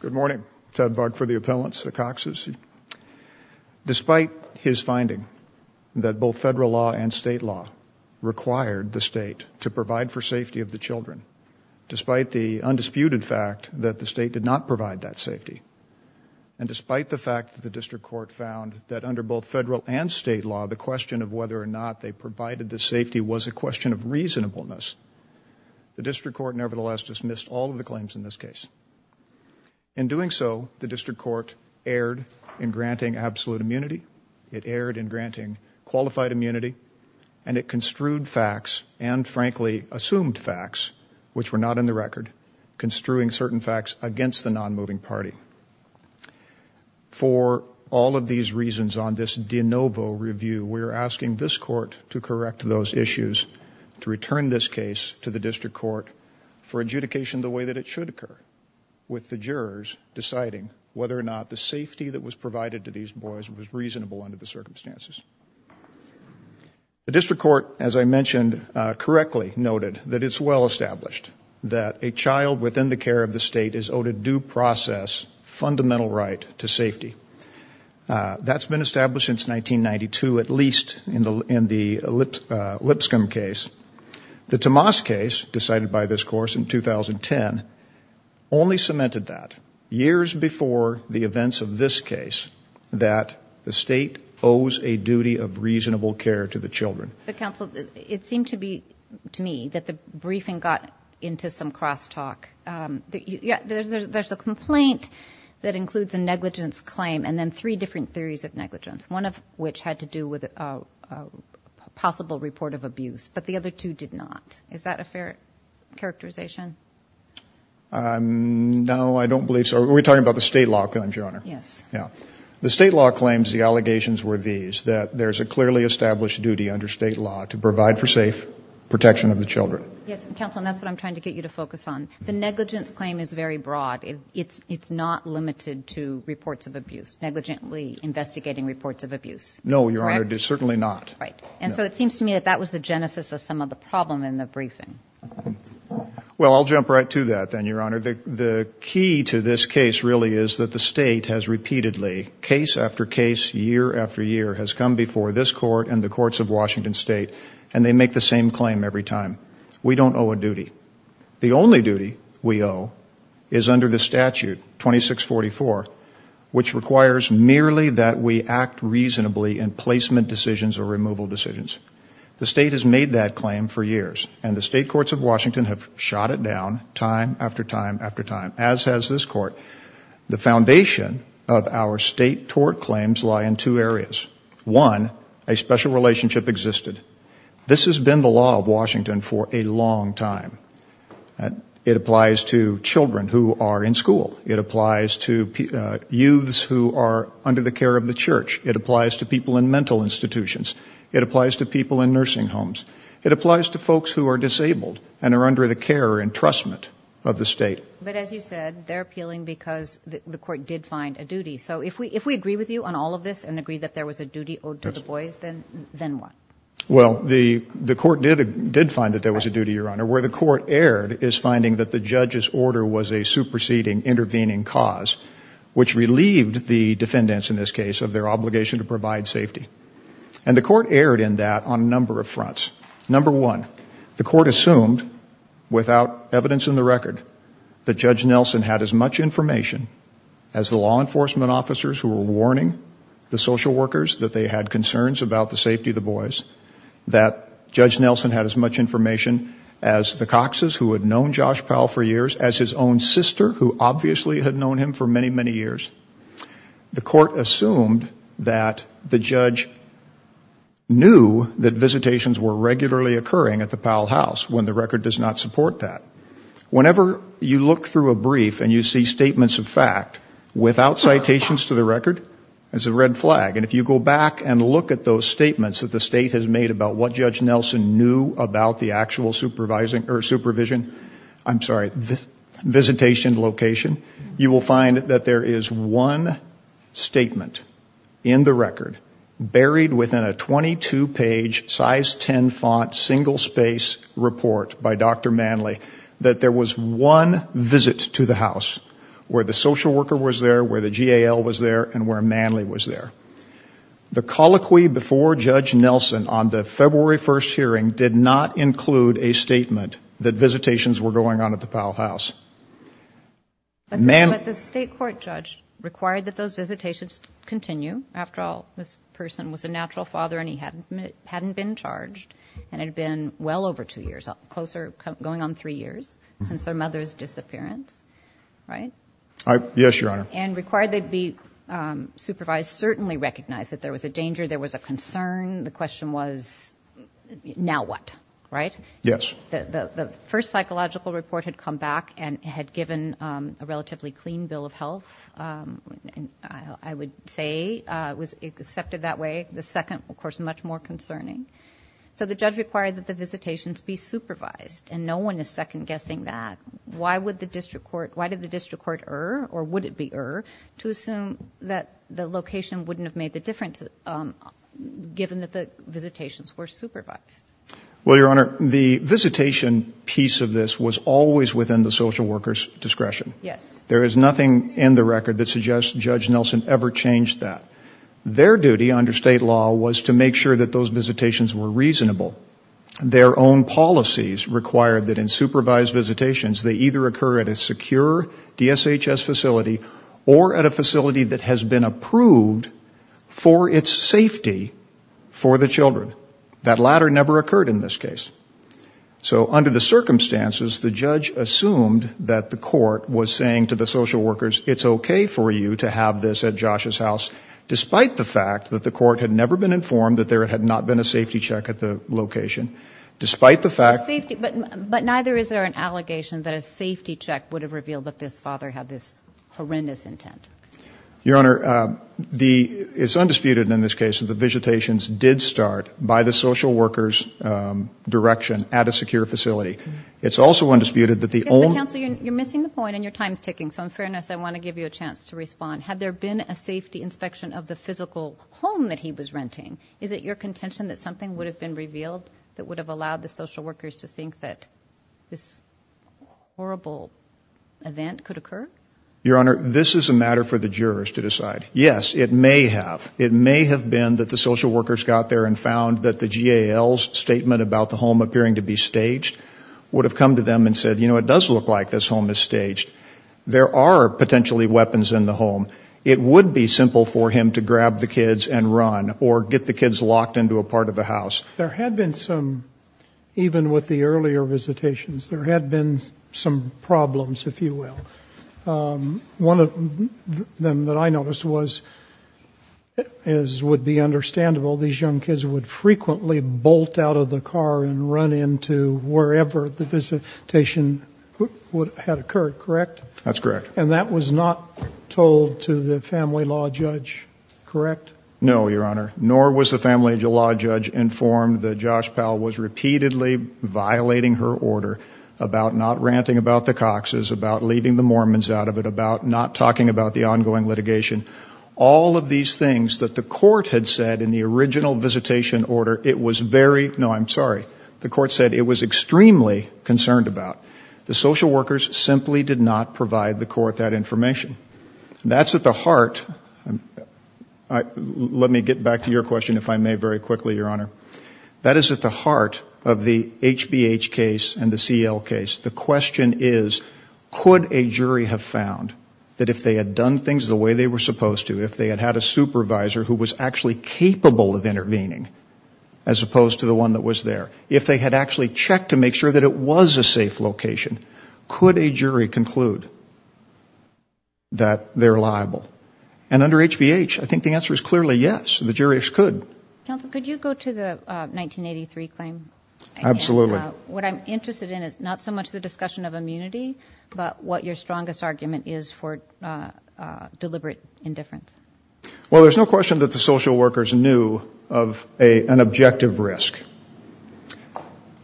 Good morning. Ted Barg for the appellants, the Cox's. Despite his finding that both federal law and state law required the state to provide for safety of the children, despite the undisputed fact that the state did not provide that safety, and despite the fact that the district court found that under both federal and state law, the question of whether or not they provided the safety was a question of reasonableness, the district court nevertheless dismissed all of the claims in this case. In doing so, the district court erred in granting absolute immunity, it erred in granting qualified immunity, and it construed facts and, frankly, assumed facts, which were not in the record, construing certain facts against the non-moving party. For all of these reasons, on this de novo review, we are asking this court to correct those issues, to return this case to the district court for adjudication the way that it should occur, with the jurors deciding whether or not the safety that was provided to these boys was reasonable under the circumstances. The district court, as I mentioned, correctly noted that it's well established that a child within the care of the state is owed a due process fundamental right to safety. That's been established since 1992, at least in the Lipscomb case. The Tomas case, decided by this course in 2010, only cemented that, years before the events of this case, that the state owes a duty of reasonable care to the children. But, counsel, it seemed to me that the briefing got into some crosstalk. There's a complaint that includes a negligence claim and then three different theories of negligence, one of which had to do with a possible report of abuse, but the other two did not. Is that a fair characterization? No, I don't believe so. Are we talking about the state law claims, Your Honor? Yes. The state law claims the allegations were these, that there's a clearly established duty under state law to provide for safe protection of the children. Yes, counsel, and that's what I'm trying to get you to focus on. The negligence claim is very broad. It's not limited to reports of abuse, negligently investigating reports of abuse. No, Your Honor, certainly not. Right, and so it seems to me that that was the genesis of some of the problem in the briefing. Well, I'll jump right to that then, Your Honor. The key to this case really is that the state has repeatedly, case after case, year after year, has come before this court and the courts of Washington State, We don't owe a duty. The only duty we owe is under the statute 2644, which requires merely that we act reasonably in placement decisions or removal decisions. The state has made that claim for years, and the state courts of Washington have shot it down time after time after time, as has this court. The foundation of our state tort claims lie in two areas. One, a special relationship existed. This has been the law of Washington for a long time. It applies to children who are in school. It applies to youths who are under the care of the church. It applies to people in mental institutions. It applies to people in nursing homes. It applies to folks who are disabled and are under the care or entrustment of the state. But as you said, they're appealing because the court did find a duty. So if we agree with you on all of this and agree that there was a duty owed to the boys, then what? Well, the court did find that there was a duty, Your Honor. Where the court erred is finding that the judge's order was a superseding, intervening cause, which relieved the defendants in this case of their obligation to provide safety. And the court erred in that on a number of fronts. Number one, the court assumed without evidence in the record that Judge Nelson had as much information as the law enforcement officers who were warning the social workers that they had concerns about the safety of the boys, that Judge Nelson had as much information as the Cox's who had known Josh Powell for years, as his own sister who obviously had known him for many, many years. The court assumed that the judge knew that visitations were regularly occurring at the Powell house when the record does not support that. Whenever you look through a brief and you see statements of fact, without citations to the record, it's a red flag. And if you go back and look at those statements that the state has made about what Judge Nelson knew about the actual supervision, I'm sorry, visitation location, you will find that there is one statement in the record, buried within a 22-page, size 10 font, single-space report by Dr. Manley, that there was one visit to the house where the social worker was there, where the GAL was there, and where Manley was there. The colloquy before Judge Nelson on the February 1st hearing did not include a statement that visitations were going on at the Powell house. But the state court judge required that those visitations continue. After all, this person was a natural father and he hadn't been charged, and it had been well over two years, going on three years, since their mother's disappearance, right? Yes, Your Honor. And required they be supervised, certainly recognized that there was a danger, there was a concern, the question was, now what, right? Yes. The first psychological report had come back and had given a relatively clean bill of health, I would say, was accepted that way. The second, of course, much more concerning. So the judge required that the visitations be supervised, and no one is second-guessing that. Why did the district court err, or would it be err, to assume that the location wouldn't have made the difference, given that the visitations were supervised? Well, Your Honor, the visitation piece of this was always within the social worker's discretion. Yes. There is nothing in the record that suggests Judge Nelson ever changed that. Their duty under state law was to make sure that those visitations were reasonable. Their own policies required that in supervised visitations, they either occur at a secure DSHS facility or at a facility that has been approved for its safety for the children. That latter never occurred in this case. So under the circumstances, the judge assumed that the court was saying to the social workers, it's okay for you to have this at Josh's house, despite the fact that the court had never been informed that there had not been a safety check at the location, despite the fact that... But neither is there an allegation that a safety check would have revealed that this father had this horrendous intent. Your Honor, it's undisputed in this case that the visitations did start by the social worker's direction at a secure facility. It's also undisputed that the only... Yes, but counsel, you're missing the point, and your time is ticking. Have there been a safety inspection of the physical home that he was renting? Is it your contention that something would have been revealed that would have allowed the social workers to think that this horrible event could occur? Your Honor, this is a matter for the jurors to decide. Yes, it may have. It may have been that the social workers got there and found that the GAL's statement about the home appearing to be staged would have come to them and said, you know, it does look like this home is staged. There are potentially weapons in the home. It would be simple for him to grab the kids and run or get the kids locked into a part of the house. There had been some, even with the earlier visitations, there had been some problems, if you will. One of them that I noticed was, as would be understandable, these young kids would frequently bolt out of the car and run into wherever the visitation had occurred, correct? That's correct. And that was not told to the family law judge, correct? No, Your Honor, nor was the family law judge informed that Josh Powell was repeatedly violating her order about not ranting about the Cox's, about leaving the Mormons out of it, about not talking about the ongoing litigation. All of these things that the court had said in the original visitation order, it was very, no, I'm sorry, the court said it was extremely concerned about. The social workers simply did not provide the court that information. That's at the heart, let me get back to your question, if I may, very quickly, Your Honor. That is at the heart of the HBH case and the CL case. The question is, could a jury have found that if they had done things the way they were supposed to, if they had had a supervisor who was actually capable of intervening as opposed to the one that was there, if they had actually checked to make sure that it was a safe location, could a jury conclude that they're liable? And under HBH, I think the answer is clearly yes, the jurors could. Counsel, could you go to the 1983 claim? Absolutely. What I'm interested in is not so much the discussion of immunity, but what your strongest argument is for deliberate indifference. Well, there's no question that the social workers knew of an objective risk.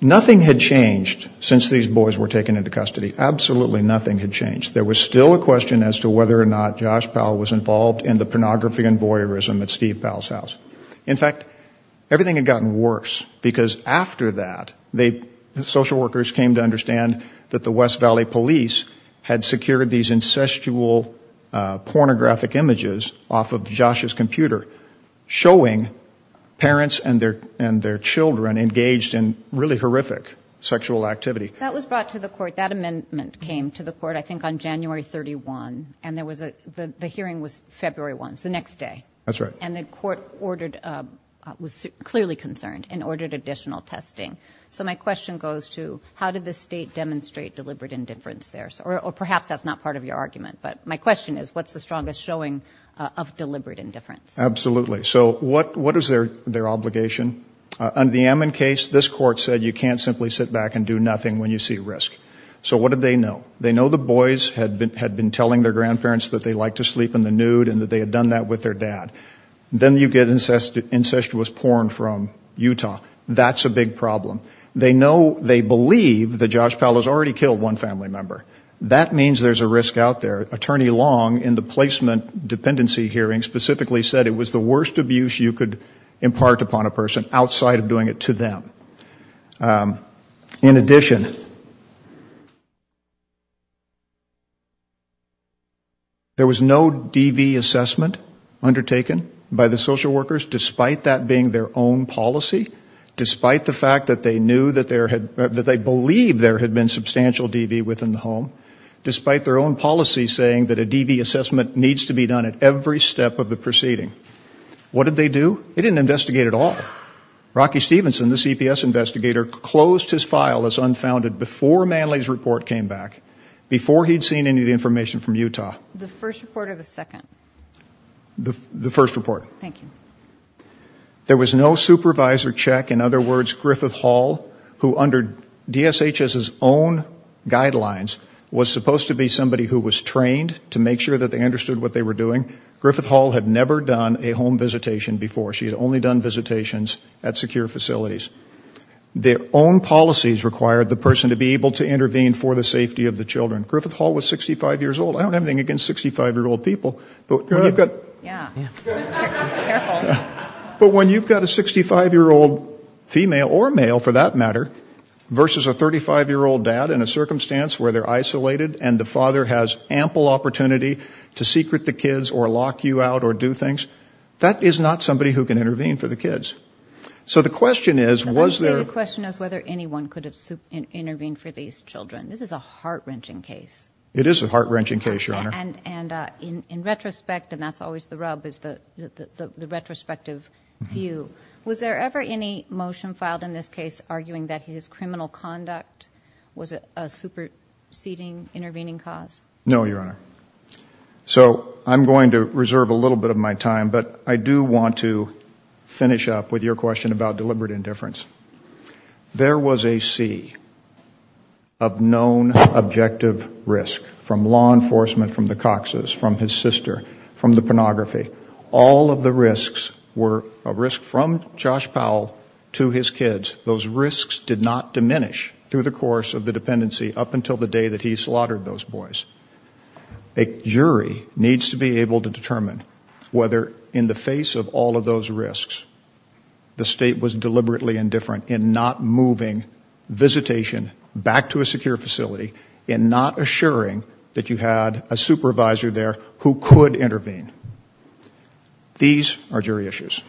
Nothing had changed since these boys were taken into custody. Absolutely nothing had changed. There was still a question as to whether or not Josh Powell was involved in the pornography and voyeurism at Steve Powell's house. In fact, everything had gotten worse because after that, the social workers came to understand that the West Valley police had secured these incestual pornographic images off of Josh's computer showing parents and their children engaged in really horrific sexual activity. That was brought to the court. That amendment came to the court, I think, on January 31, and the hearing was February 1, so the next day. That's right. And the court was clearly concerned and ordered additional testing. So my question goes to how did the state demonstrate deliberate indifference there? Or perhaps that's not part of your argument, but my question is what's the strongest showing of deliberate indifference? Absolutely. So what is their obligation? Under the Ammon case, this court said you can't simply sit back and do nothing when you see risk. So what did they know? They know the boys had been telling their grandparents that they liked to sleep in the nude and that they had done that with their dad. Then you get incestuous porn from Utah. That's a big problem. They know, they believe that Josh Powell has already killed one family member. That means there's a risk out there. Attorney Long, in the placement dependency hearing, specifically said it was the worst abuse you could impart upon a person outside of doing it to them. In addition, there was no DV assessment undertaken by the social workers, despite that being their own policy, despite the fact that they knew that there had, that they believed there had been substantial DV within the home, despite their own policy saying that a DV assessment needs to be done at every step of the proceeding. What did they do? They didn't investigate at all. Rocky Stevenson, the CPS investigator, closed his file as unfounded before Manley's report came back, before he'd seen any of the information from Utah. The first report or the second? The first report. Thank you. There was no supervisor check. In other words, Griffith Hall, who under DSHS's own guidelines, was supposed to be somebody who was trained to make sure that they understood what they were doing. Griffith Hall had never done a home visitation before. She had only done visitations at secure facilities. Their own policies required the person to be able to intervene for the safety of the children. Griffith Hall was 65 years old. I don't have anything against 65-year-old people, but when you've got a 65-year-old female or male, for that matter, versus a 35-year-old dad in a circumstance where they're isolated and the father has ample opportunity to secret the kids or lock you out or do things, that is not somebody who can intervene for the kids. So the question is, was there – The question is whether anyone could have intervened for these children. This is a heart-wrenching case. It is a heart-wrenching case, Your Honor. And in retrospect, and that's always the rub, is the retrospective view, was there ever any motion filed in this case arguing that his criminal conduct was a superseding intervening cause? No, Your Honor. So I'm going to reserve a little bit of my time, but I do want to finish up with your question about deliberate indifference. There was a sea of known objective risk from law enforcement, from the Coxes, from his sister, from the pornography. All of the risks were a risk from Josh Powell to his kids. Those risks did not diminish through the course of the dependency up until the day that he slaughtered those boys. A jury needs to be able to determine whether, in the face of all of those risks, the state was deliberately indifferent in not moving visitation back to a secure facility and not assuring that you had a supervisor there who could intervene. These are jury issues.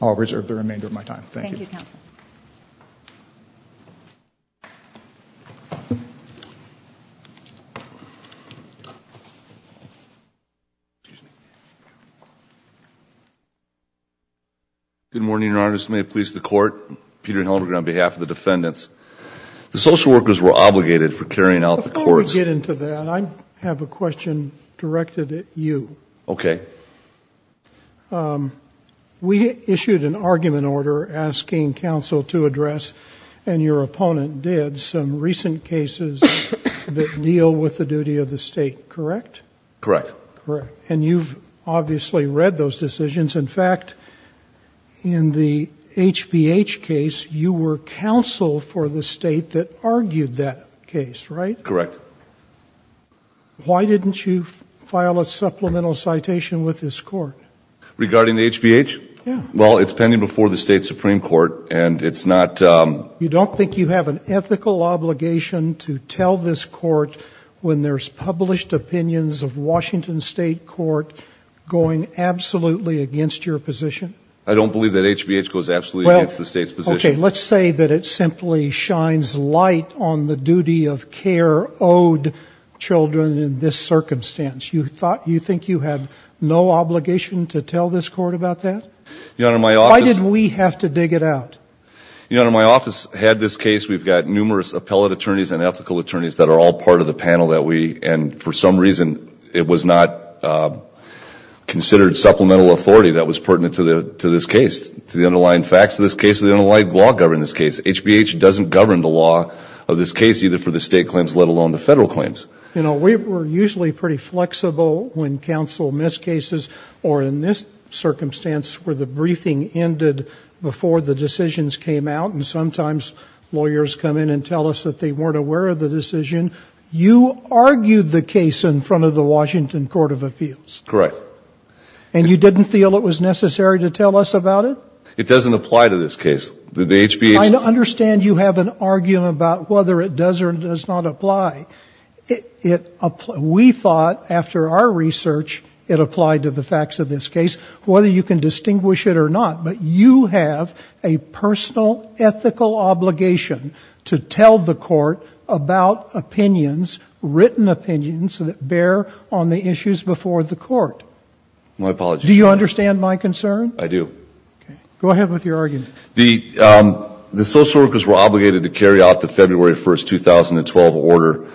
I'll reserve the remainder of my time. Thank you. Thank you, Counsel. Good morning, Your Honor. This may please the Court. Peter Hellenberg on behalf of the defendants. The social workers were obligated for carrying out the courts. Before we get into that, I have a question directed at you. Okay. We issued an argument order asking counsel to address, and your opponent did, some recent cases that deal with the duty of the state, correct? Correct. Correct. And you've obviously read those decisions. In fact, in the HPH case, you were counsel for the state that argued that case, right? Correct. Why didn't you file a supplemental citation with this court? Regarding the HPH? Yeah. Well, it's pending before the state Supreme Court, and it's not ‑‑ You don't think you have an ethical obligation to tell this court when there's published opinions of Washington State Court going absolutely against your position? I don't believe that HPH goes absolutely against the state's position. Okay. Let's say that it simply shines light on the duty of care owed children in this circumstance. You think you have no obligation to tell this court about that? Your Honor, my office ‑‑ Why didn't we have to dig it out? Your Honor, my office had this case. We've got numerous appellate attorneys and ethical attorneys that are all part of the panel that we, and for some reason it was not considered supplemental authority that was pertinent to this case. To the underlying facts of this case, to the underlying law governing this case, HPH doesn't govern the law of this case, either for the state claims, let alone the federal claims. You know, we were usually pretty flexible when counsel missed cases, or in this circumstance where the briefing ended before the decisions came out, and sometimes lawyers come in and tell us that they weren't aware of the decision. You argued the case in front of the Washington Court of Appeals. Correct. And you didn't feel it was necessary to tell us about it? It doesn't apply to this case. The HPH ‑‑ I understand you have an argument about whether it does or does not apply. We thought, after our research, it applied to the facts of this case, whether you can distinguish it or not. But you have a personal ethical obligation to tell the court about opinions, written opinions that bear on the issues before the court. My apologies. Do you understand my concern? I do. Okay. Go ahead with your argument. The social workers were obligated to carry out the February 1, 2012 order,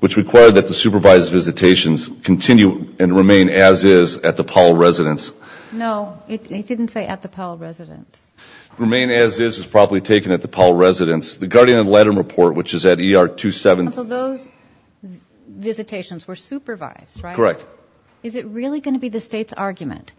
which required that the supervised visitations continue and remain as is at the Powell residence. No, it didn't say at the Powell residence. Remain as is is probably taken at the Powell residence. The Guardian letter report, which is at ER 27. Counsel, those visitations were supervised, right? Correct. Is it really going to be the State's argument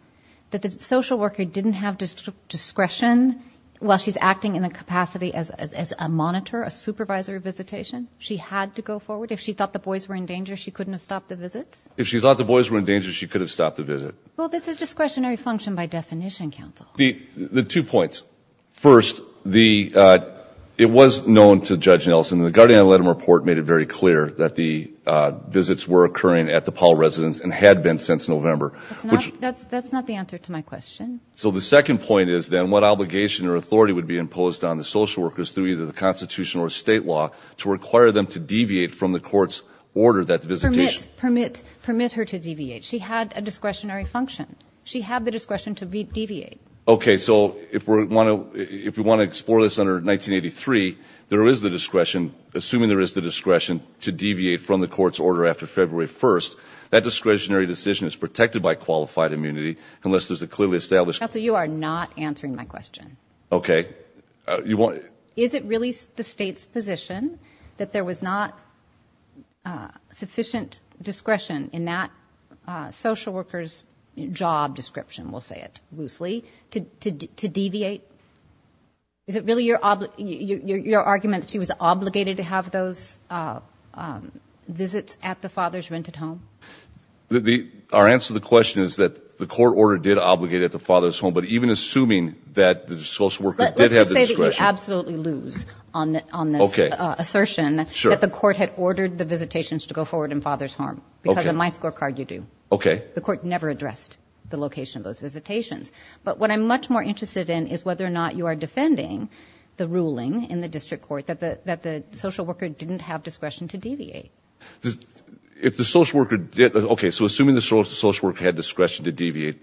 that the social worker didn't have discretion while she's acting in a capacity as a monitor, a supervisor of visitation? She had to go forward? If she thought the boys were in danger, she couldn't have stopped the visits? If she thought the boys were in danger, she could have stopped the visit. Well, that's a discretionary function by definition, Counsel. The two points. First, it was known to Judge Nelson, and the Guardian letter report made it very clear that the visits were occurring at the Powell residence and had been since November. That's not the answer to my question. So the second point is then what obligation or authority would be imposed on the social workers through either the Constitution or State law to require them to deviate from the court's order that visitation? Permit her to deviate. She had a discretionary function. She had the discretion to deviate. Okay, so if we want to explore this under 1983, there is the discretion, assuming there is the discretion to deviate from the court's order after February 1st, that discretionary decision is protected by qualified immunity unless there's a clearly established Counsel, you are not answering my question. Okay. Is it really the State's position that there was not sufficient discretion in that social worker's job description, we'll say it loosely, to deviate? Is it really your argument that she was obligated to have those visits at the father's rented home? Our answer to the question is that the court order did obligate at the father's home, but even assuming that the social worker did have the discretion. Let's just say that you absolutely lose on this assertion that the court had ordered the visitations to go forward in father's home because of my scorecard, you do. Okay. The court never addressed the location of those visitations. But what I'm much more interested in is whether or not you are defending the ruling in the district court that the social worker didn't have discretion to deviate. If the social worker did, okay, so assuming the social worker had discretion to deviate,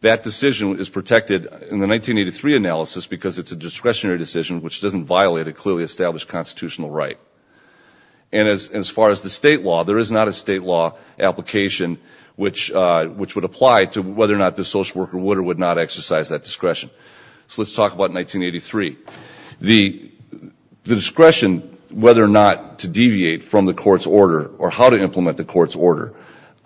that decision is protected in the 1983 analysis because it's a discretionary decision, which doesn't violate a clearly established constitutional right. And as far as the state law, there is not a state law application which would apply to whether or not the social worker would or would not exercise that discretion. So let's talk about 1983. The discretion whether or not to deviate from the court's order or how to implement the court's order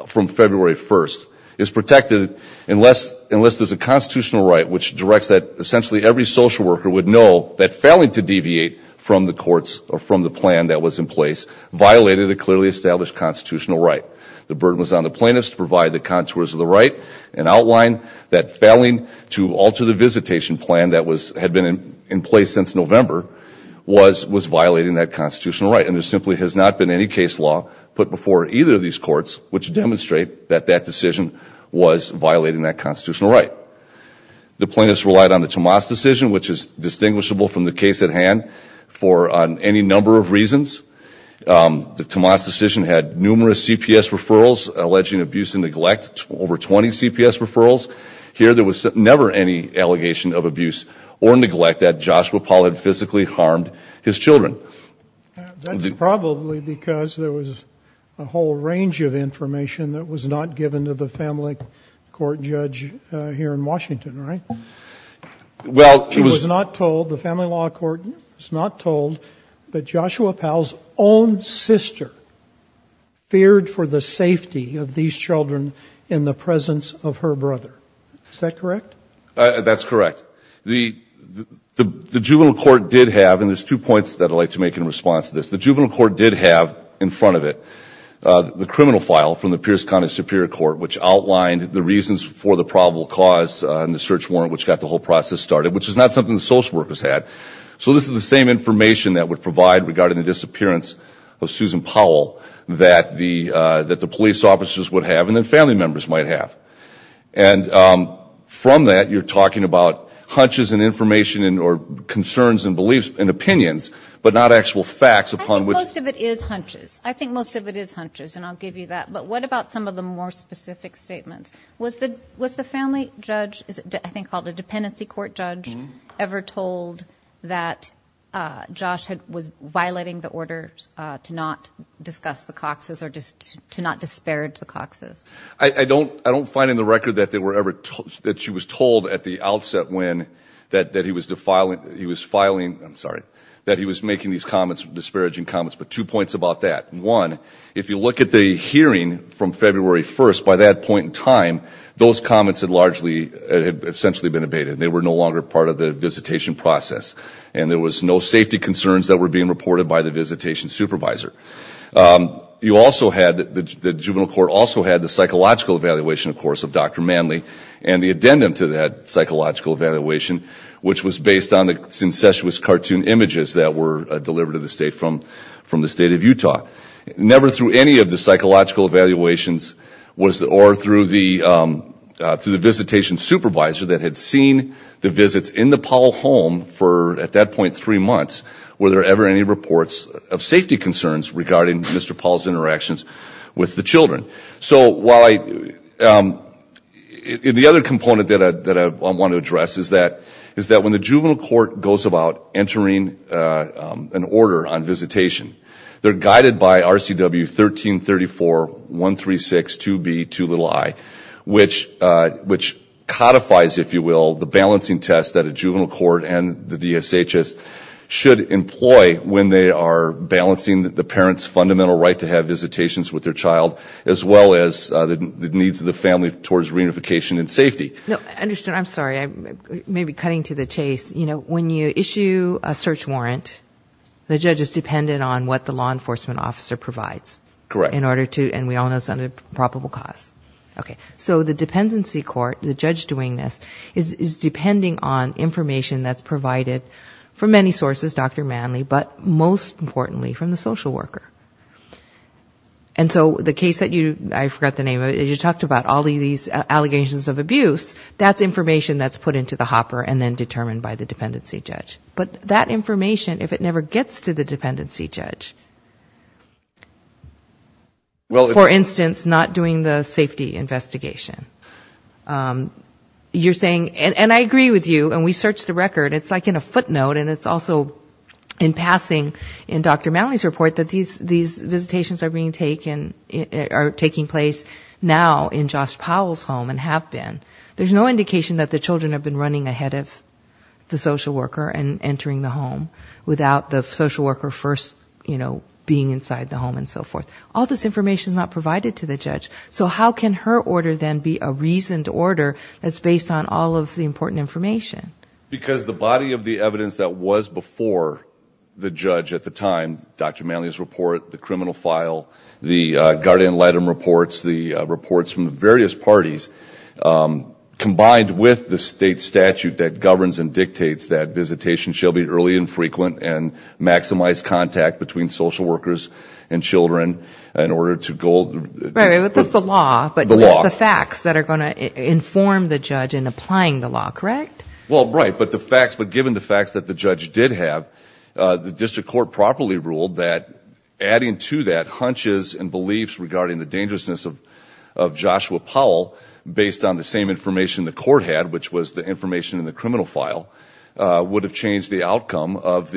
from February 1st is protected unless there's a constitutional right which directs that essentially every social worker would know that failing to deviate from the courts or from the plan that was in place violated a clearly established constitutional right. The burden was on the plaintiffs to provide the contours of the right and outline that failing to alter the visitation plan that had been in place since November was violating that constitutional right. And there simply has not been any case law put before either of these courts which demonstrate that that decision was violating that constitutional right. The plaintiffs relied on the Tomas decision, which is distinguishable from the case at hand, for any number of reasons. The Tomas decision had numerous CPS referrals alleging abuse and neglect, over 20 CPS referrals. Here there was never any allegation of abuse or neglect that Joshua Paul had physically harmed his children. That's probably because there was a whole range of information that was not given to the family court judge here in Washington, right? She was not told, the family law court was not told, that Joshua Paul's own sister feared for the safety of these children in the presence of her brother. Is that correct? That's correct. The juvenile court did have, and there's two points that I'd like to make in response to this, the juvenile court did have in front of it the criminal file from the Pierce County Superior Court which outlined the reasons for the probable cause and the search warrant which got the whole process started, which is not something the social workers had. So this is the same information that would provide regarding the disappearance of Susan Powell that the police officers would have and the family members might have. And from that, you're talking about hunches and information or concerns and beliefs and opinions, but not actual facts upon which. I think most of it is hunches. I think most of it is hunches, and I'll give you that. But what about some of the more specific statements? Was the family judge, I think called a dependency court judge, ever told that Josh was violating the order to not discuss the Cox's or to not disparage the Cox's? I don't find in the record that she was told at the outset that he was making these disparaging comments, but two points about that. One, if you look at the hearing from February 1st, by that point in time, those comments had essentially been abated. They were no longer part of the visitation process, and there was no safety concerns that were being reported by the visitation supervisor. You also had, the juvenile court also had the psychological evaluation, of course, of Dr. Manley and the addendum to that psychological evaluation, which was based on the syncesuous cartoon images that were delivered to the state from the state of Utah. Never through any of the psychological evaluations or through the visitation supervisor that had seen the visits in the Powell home for, at that point, three months, were there ever any reports of safety concerns regarding Mr. Powell's interactions with the children. The other component that I want to address is that when the juvenile court goes about entering an order on visitation, they're guided by RCW 1334.136.2B.2i, which codifies, if you will, the balancing test that a juvenile court and the DSHS should employ when they are balancing the parent's fundamental right to have visitations with their child, as well as the needs of the family towards reunification and safety. No, understood. I'm sorry. I may be cutting to the chase. You know, when you issue a search warrant, the judge is dependent on what the law enforcement officer provides. Correct. In order to, and we all know it's under probable cause. Okay. So the dependency court, the judge doing this, is depending on information that's provided from many sources, Dr. Manley, but most importantly from the social worker. And so the case that you, I forgot the name of it, you talked about all these allegations of abuse, that's information that's put into the hopper and then determined by the dependency judge. But that information, if it never gets to the dependency judge, for instance, not doing the safety investigation, you're saying, and I agree with you, and we searched the record, it's like in a footnote and it's also in passing in Dr. Manley's report that these visitations are being taken, are taking place now in Josh Powell's home and have been. There's no indication that the children have been running ahead of the social worker and entering the home without the social worker first, you know, being inside the home and so forth. All this information is not provided to the judge. So how can her order then be a reasoned order that's based on all of the important information? Because the body of the evidence that was before the judge at the time, Dr. Manley's report, the criminal file, the guardian letter reports, the reports from the various parties, combined with the state statute that governs and dictates that visitation shall be early and frequent and maximize contact between social workers and children in order to go... Right, but that's the law. The law. But that's the facts that are going to inform the judge in applying the law, correct? Well, right, but the facts, but given the facts that the judge did have, the district court properly ruled that adding to that hunches and beliefs regarding the dangerousness of Joshua Powell based on the same information the court had, which was the information in the criminal file, would have changed the outcome of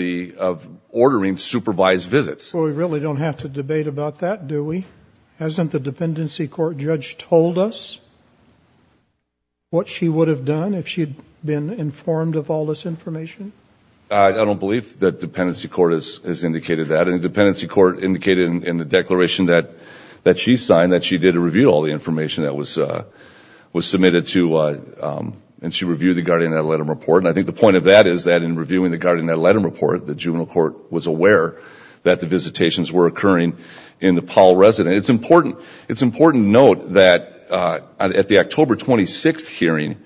ordering supervised visits. So we really don't have to debate about that, do we? Hasn't the dependency court judge told us what she would have done if she had been informed of all this information? I don't believe that dependency court has indicated that. Dependency court indicated in the declaration that she signed that she did review all the information that was submitted to, and she reviewed the guardian letter report. And I think the point of that is that in reviewing the guardian letter report, the juvenile court was aware that the visitations were occurring in the Powell residence. It's important to note that at the October 26th hearing,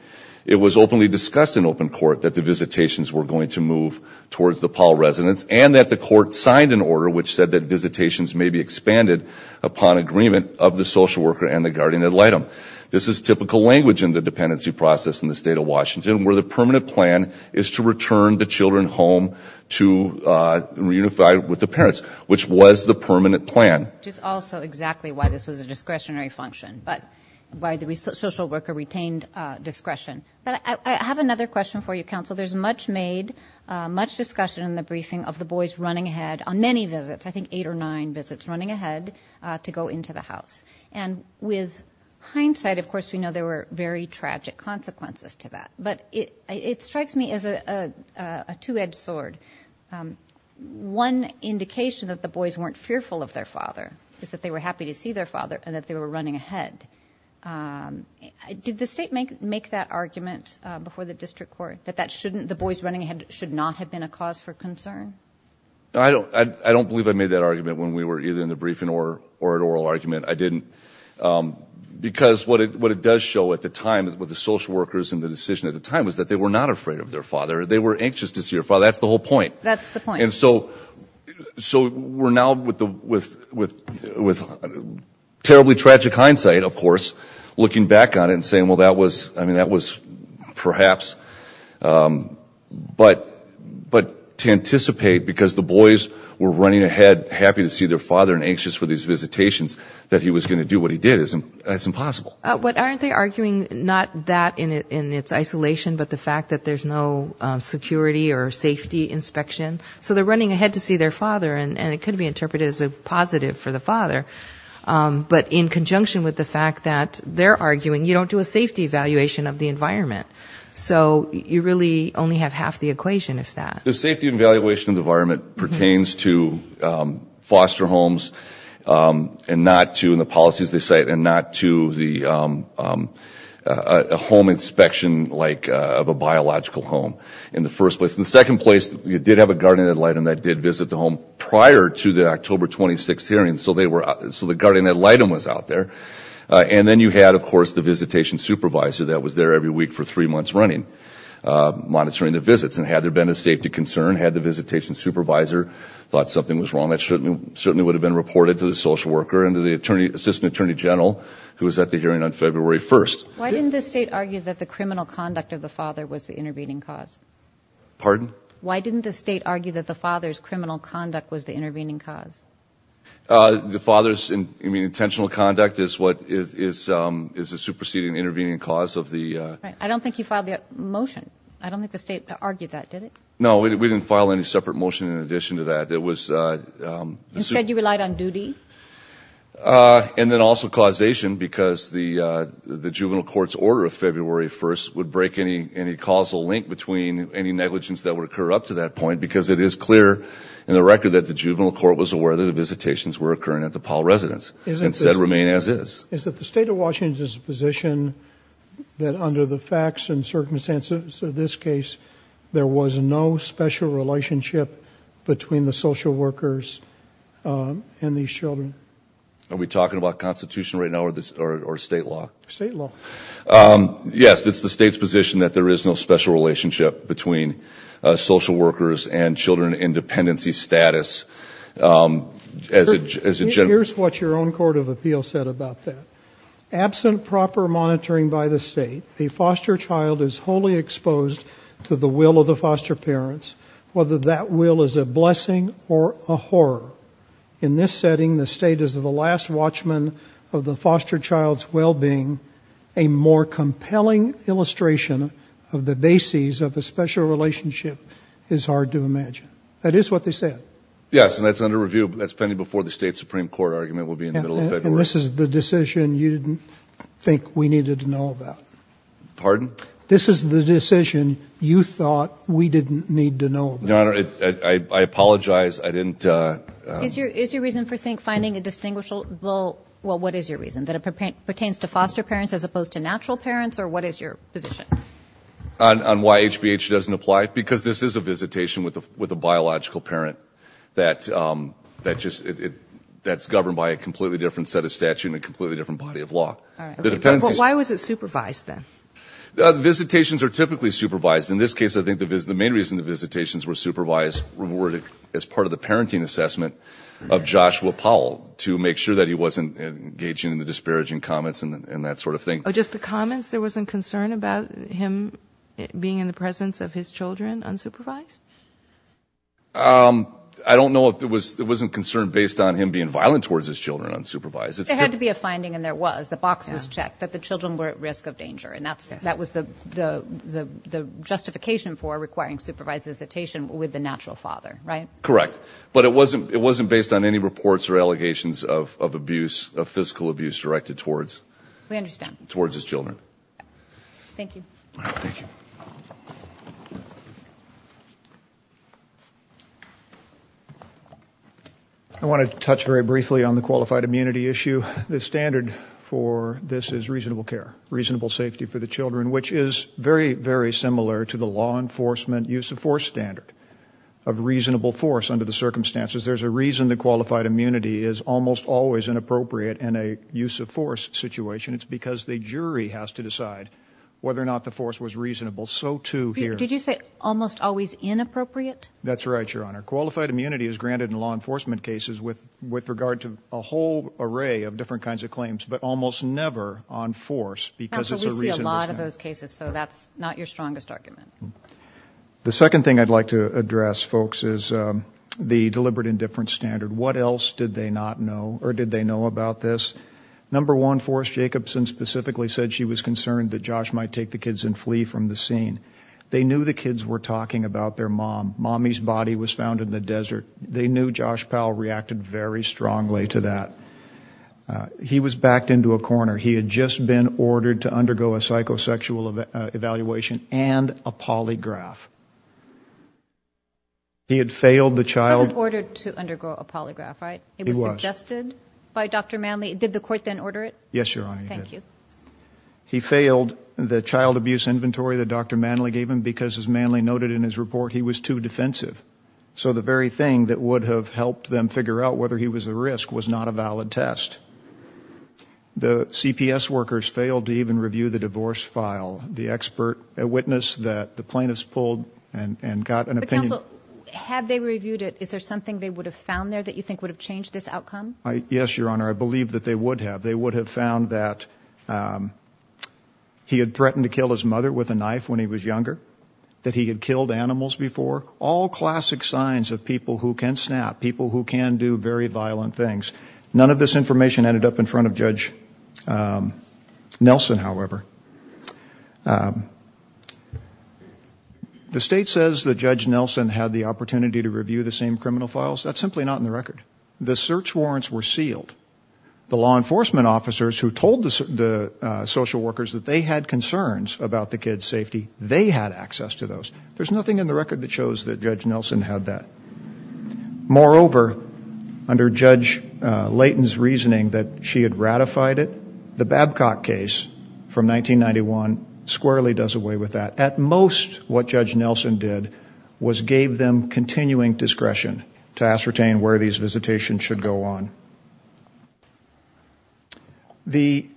it was openly discussed in open court that the visitations were going to move towards the Powell residence and that the court signed an order which said that visitations may be expanded upon agreement of the social worker and the guardian ad litem. This is typical language in the dependency process in the State of Washington where the permanent plan is to return the children home to reunify with the parents, which was the permanent plan. Which is also exactly why this was a discretionary function, but why the social worker retained discretion. But I have another question for you, counsel. There's much made, much discussion in the briefing of the boys running ahead on many visits, I think eight or nine visits, running ahead to go into the house. And with hindsight, of course, we know there were very tragic consequences to that. But it strikes me as a two-edged sword. One indication that the boys weren't fearful of their father is that they were happy to see their father and that they were running ahead. Did the state make that argument before the district court, that the boys running ahead should not have been a cause for concern? I don't believe I made that argument when we were either in the briefing or an oral argument. I didn't. Because what it does show at the time with the social workers and the decision at the time was that they were not afraid of their father. They were anxious to see their father. That's the whole point. That's the point. And so we're now with terribly tragic hindsight, of course, looking back on it and saying, well, that was perhaps. But to anticipate because the boys were running ahead, happy to see their father and anxious for these visitations, that he was going to do what he did is impossible. But aren't they arguing not that in its isolation, but the fact that there's no security or safety inspection? So they're running ahead to see their father, and it could be interpreted as a positive for the father. But in conjunction with the fact that they're arguing, you don't do a safety evaluation of the environment. So you really only have half the equation, if that. The safety evaluation of the environment pertains to foster homes and not to, in the policies they cite, and not to a home inspection like of a biological home in the first place. In the second place, you did have a guardian ad litem that did visit the home prior to the October 26th hearing. So the guardian ad litem was out there. And then you had, of course, the visitation supervisor that was there every week for three months running, monitoring the visits. And had there been a safety concern, had the visitation supervisor thought something was wrong, that certainly would have been reported to the social worker and to the assistant attorney general, who was at the hearing on February 1st. Why didn't the state argue that the criminal conduct of the father was the intervening cause? Pardon? Why didn't the state argue that the father's criminal conduct was the intervening cause? The father's intentional conduct is the superseding intervening cause of the... I don't think you filed the motion. I don't think the state argued that, did it? No, we didn't file any separate motion in addition to that. Instead you relied on duty? And then also causation, because the juvenile court's order of February 1st would break any causal link between any negligence that would occur up to that point, because it is clear in the record that the juvenile court was aware that the visitations were occurring at the Powell residence, and said remain as is. Is it the state of Washington's position that under the facts and circumstances of this case there was no special relationship between the social workers and these children? Are we talking about Constitution right now or state law? State law. Yes, it's the state's position that there is no special relationship between social workers and children in dependency status. Here's what your own court of appeal said about that. Absent proper monitoring by the state, a foster child is wholly exposed to the will of the foster parents, whether that will is a blessing or a horror. In this setting, the state is the last watchman of the foster child's well-being. A more compelling illustration of the bases of a special relationship is hard to imagine. That is what they said. Yes, and that's under review. That's pending before the state Supreme Court argument will be in the middle of February. Well, this is the decision you didn't think we needed to know about. Pardon? This is the decision you thought we didn't need to know about. Your Honor, I apologize. I didn't. Is your reason for finding a distinguishable, well, what is your reason, that it pertains to foster parents as opposed to natural parents, or what is your position? On why HBH doesn't apply? Because this is a visitation with a biological parent that's governed by a completely different set of statute and a completely different body of law. Why was it supervised then? The visitations are typically supervised. In this case, I think the main reason the visitations were supervised were as part of the parenting assessment of Joshua Powell to make sure that he wasn't engaging in the disparaging comments and that sort of thing. Just the comments? There wasn't concern about him being in the presence of his children unsupervised? I don't know if it wasn't concern based on him being violent towards his children unsupervised. There had to be a finding, and there was. The box was checked that the children were at risk of danger, and that was the justification for requiring supervised visitation with the natural father, right? Correct. But it wasn't based on any reports or allegations of abuse, of physical abuse directed towards his children. We understand. Thank you. Thank you. I want to touch very briefly on the qualified immunity issue. The standard for this is reasonable care, reasonable safety for the children, which is very, very similar to the law enforcement use of force standard of reasonable force under the circumstances. There's a reason the qualified immunity is almost always inappropriate in a use of force situation. It's because the jury has to decide whether or not the force was reasonable. So, too, here. Did you say almost always inappropriate? That's right, Your Honor. Qualified immunity is granted in law enforcement cases with regard to a whole array of different kinds of claims, but almost never on force because it's a reasonable standard. We see a lot of those cases, so that's not your strongest argument. The second thing I'd like to address, folks, is the deliberate indifference standard. What else did they not know or did they know about this? Number one, Forrest Jacobson specifically said she was concerned that Josh might take the kids and flee from the scene. They knew the kids were talking about their mom. Mommy's body was found in the desert. They knew Josh Powell reacted very strongly to that. He was backed into a corner. He had just been ordered to undergo a psychosexual evaluation and a polygraph. He had failed the child. He wasn't ordered to undergo a polygraph, right? He was. Was that suggested by Dr. Manley? Did the court then order it? Yes, Your Honor. Thank you. He failed the child abuse inventory that Dr. Manley gave him because, as Manley noted in his report, he was too defensive. So the very thing that would have helped them figure out whether he was a risk was not a valid test. The CPS workers failed to even review the divorce file. The expert witnessed that the plaintiffs pulled and got an opinion. Counsel, had they reviewed it, is there something they would have found there that you think would have changed this outcome? Yes, Your Honor. I believe that they would have. They would have found that he had threatened to kill his mother with a knife when he was younger, that he had killed animals before. All classic signs of people who can snap, people who can do very violent things. None of this information ended up in front of Judge Nelson, however. The state says that Judge Nelson had the opportunity to review the same criminal files. That's simply not in the record. The search warrants were sealed. The law enforcement officers who told the social workers that they had concerns about the kids' safety, they had access to those. There's nothing in the record that shows that Judge Nelson had that. Moreover, under Judge Layton's reasoning that she had ratified it, the Babcock case from 1991 squarely does away with that. At most, what Judge Nelson did was gave them continuing discretion to ascertain where these visitations should go on. The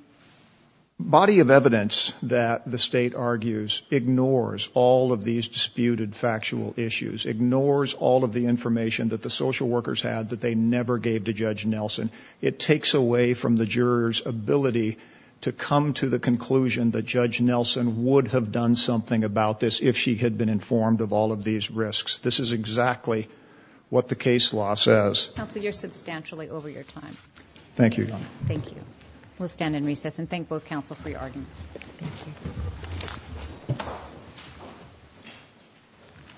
body of evidence that the state argues ignores all of these disputed factual issues, ignores all of the information that the social workers had that they never gave to Judge Nelson. It takes away from the jurors' ability to come to the conclusion that Judge Nelson would have done something about this if she had been informed of all of these risks. This is exactly what the case law says. Counsel, you're substantially over your time. Thank you, Your Honor. Thank you. We'll stand in recess and thank both counsel for your argument. Thank you.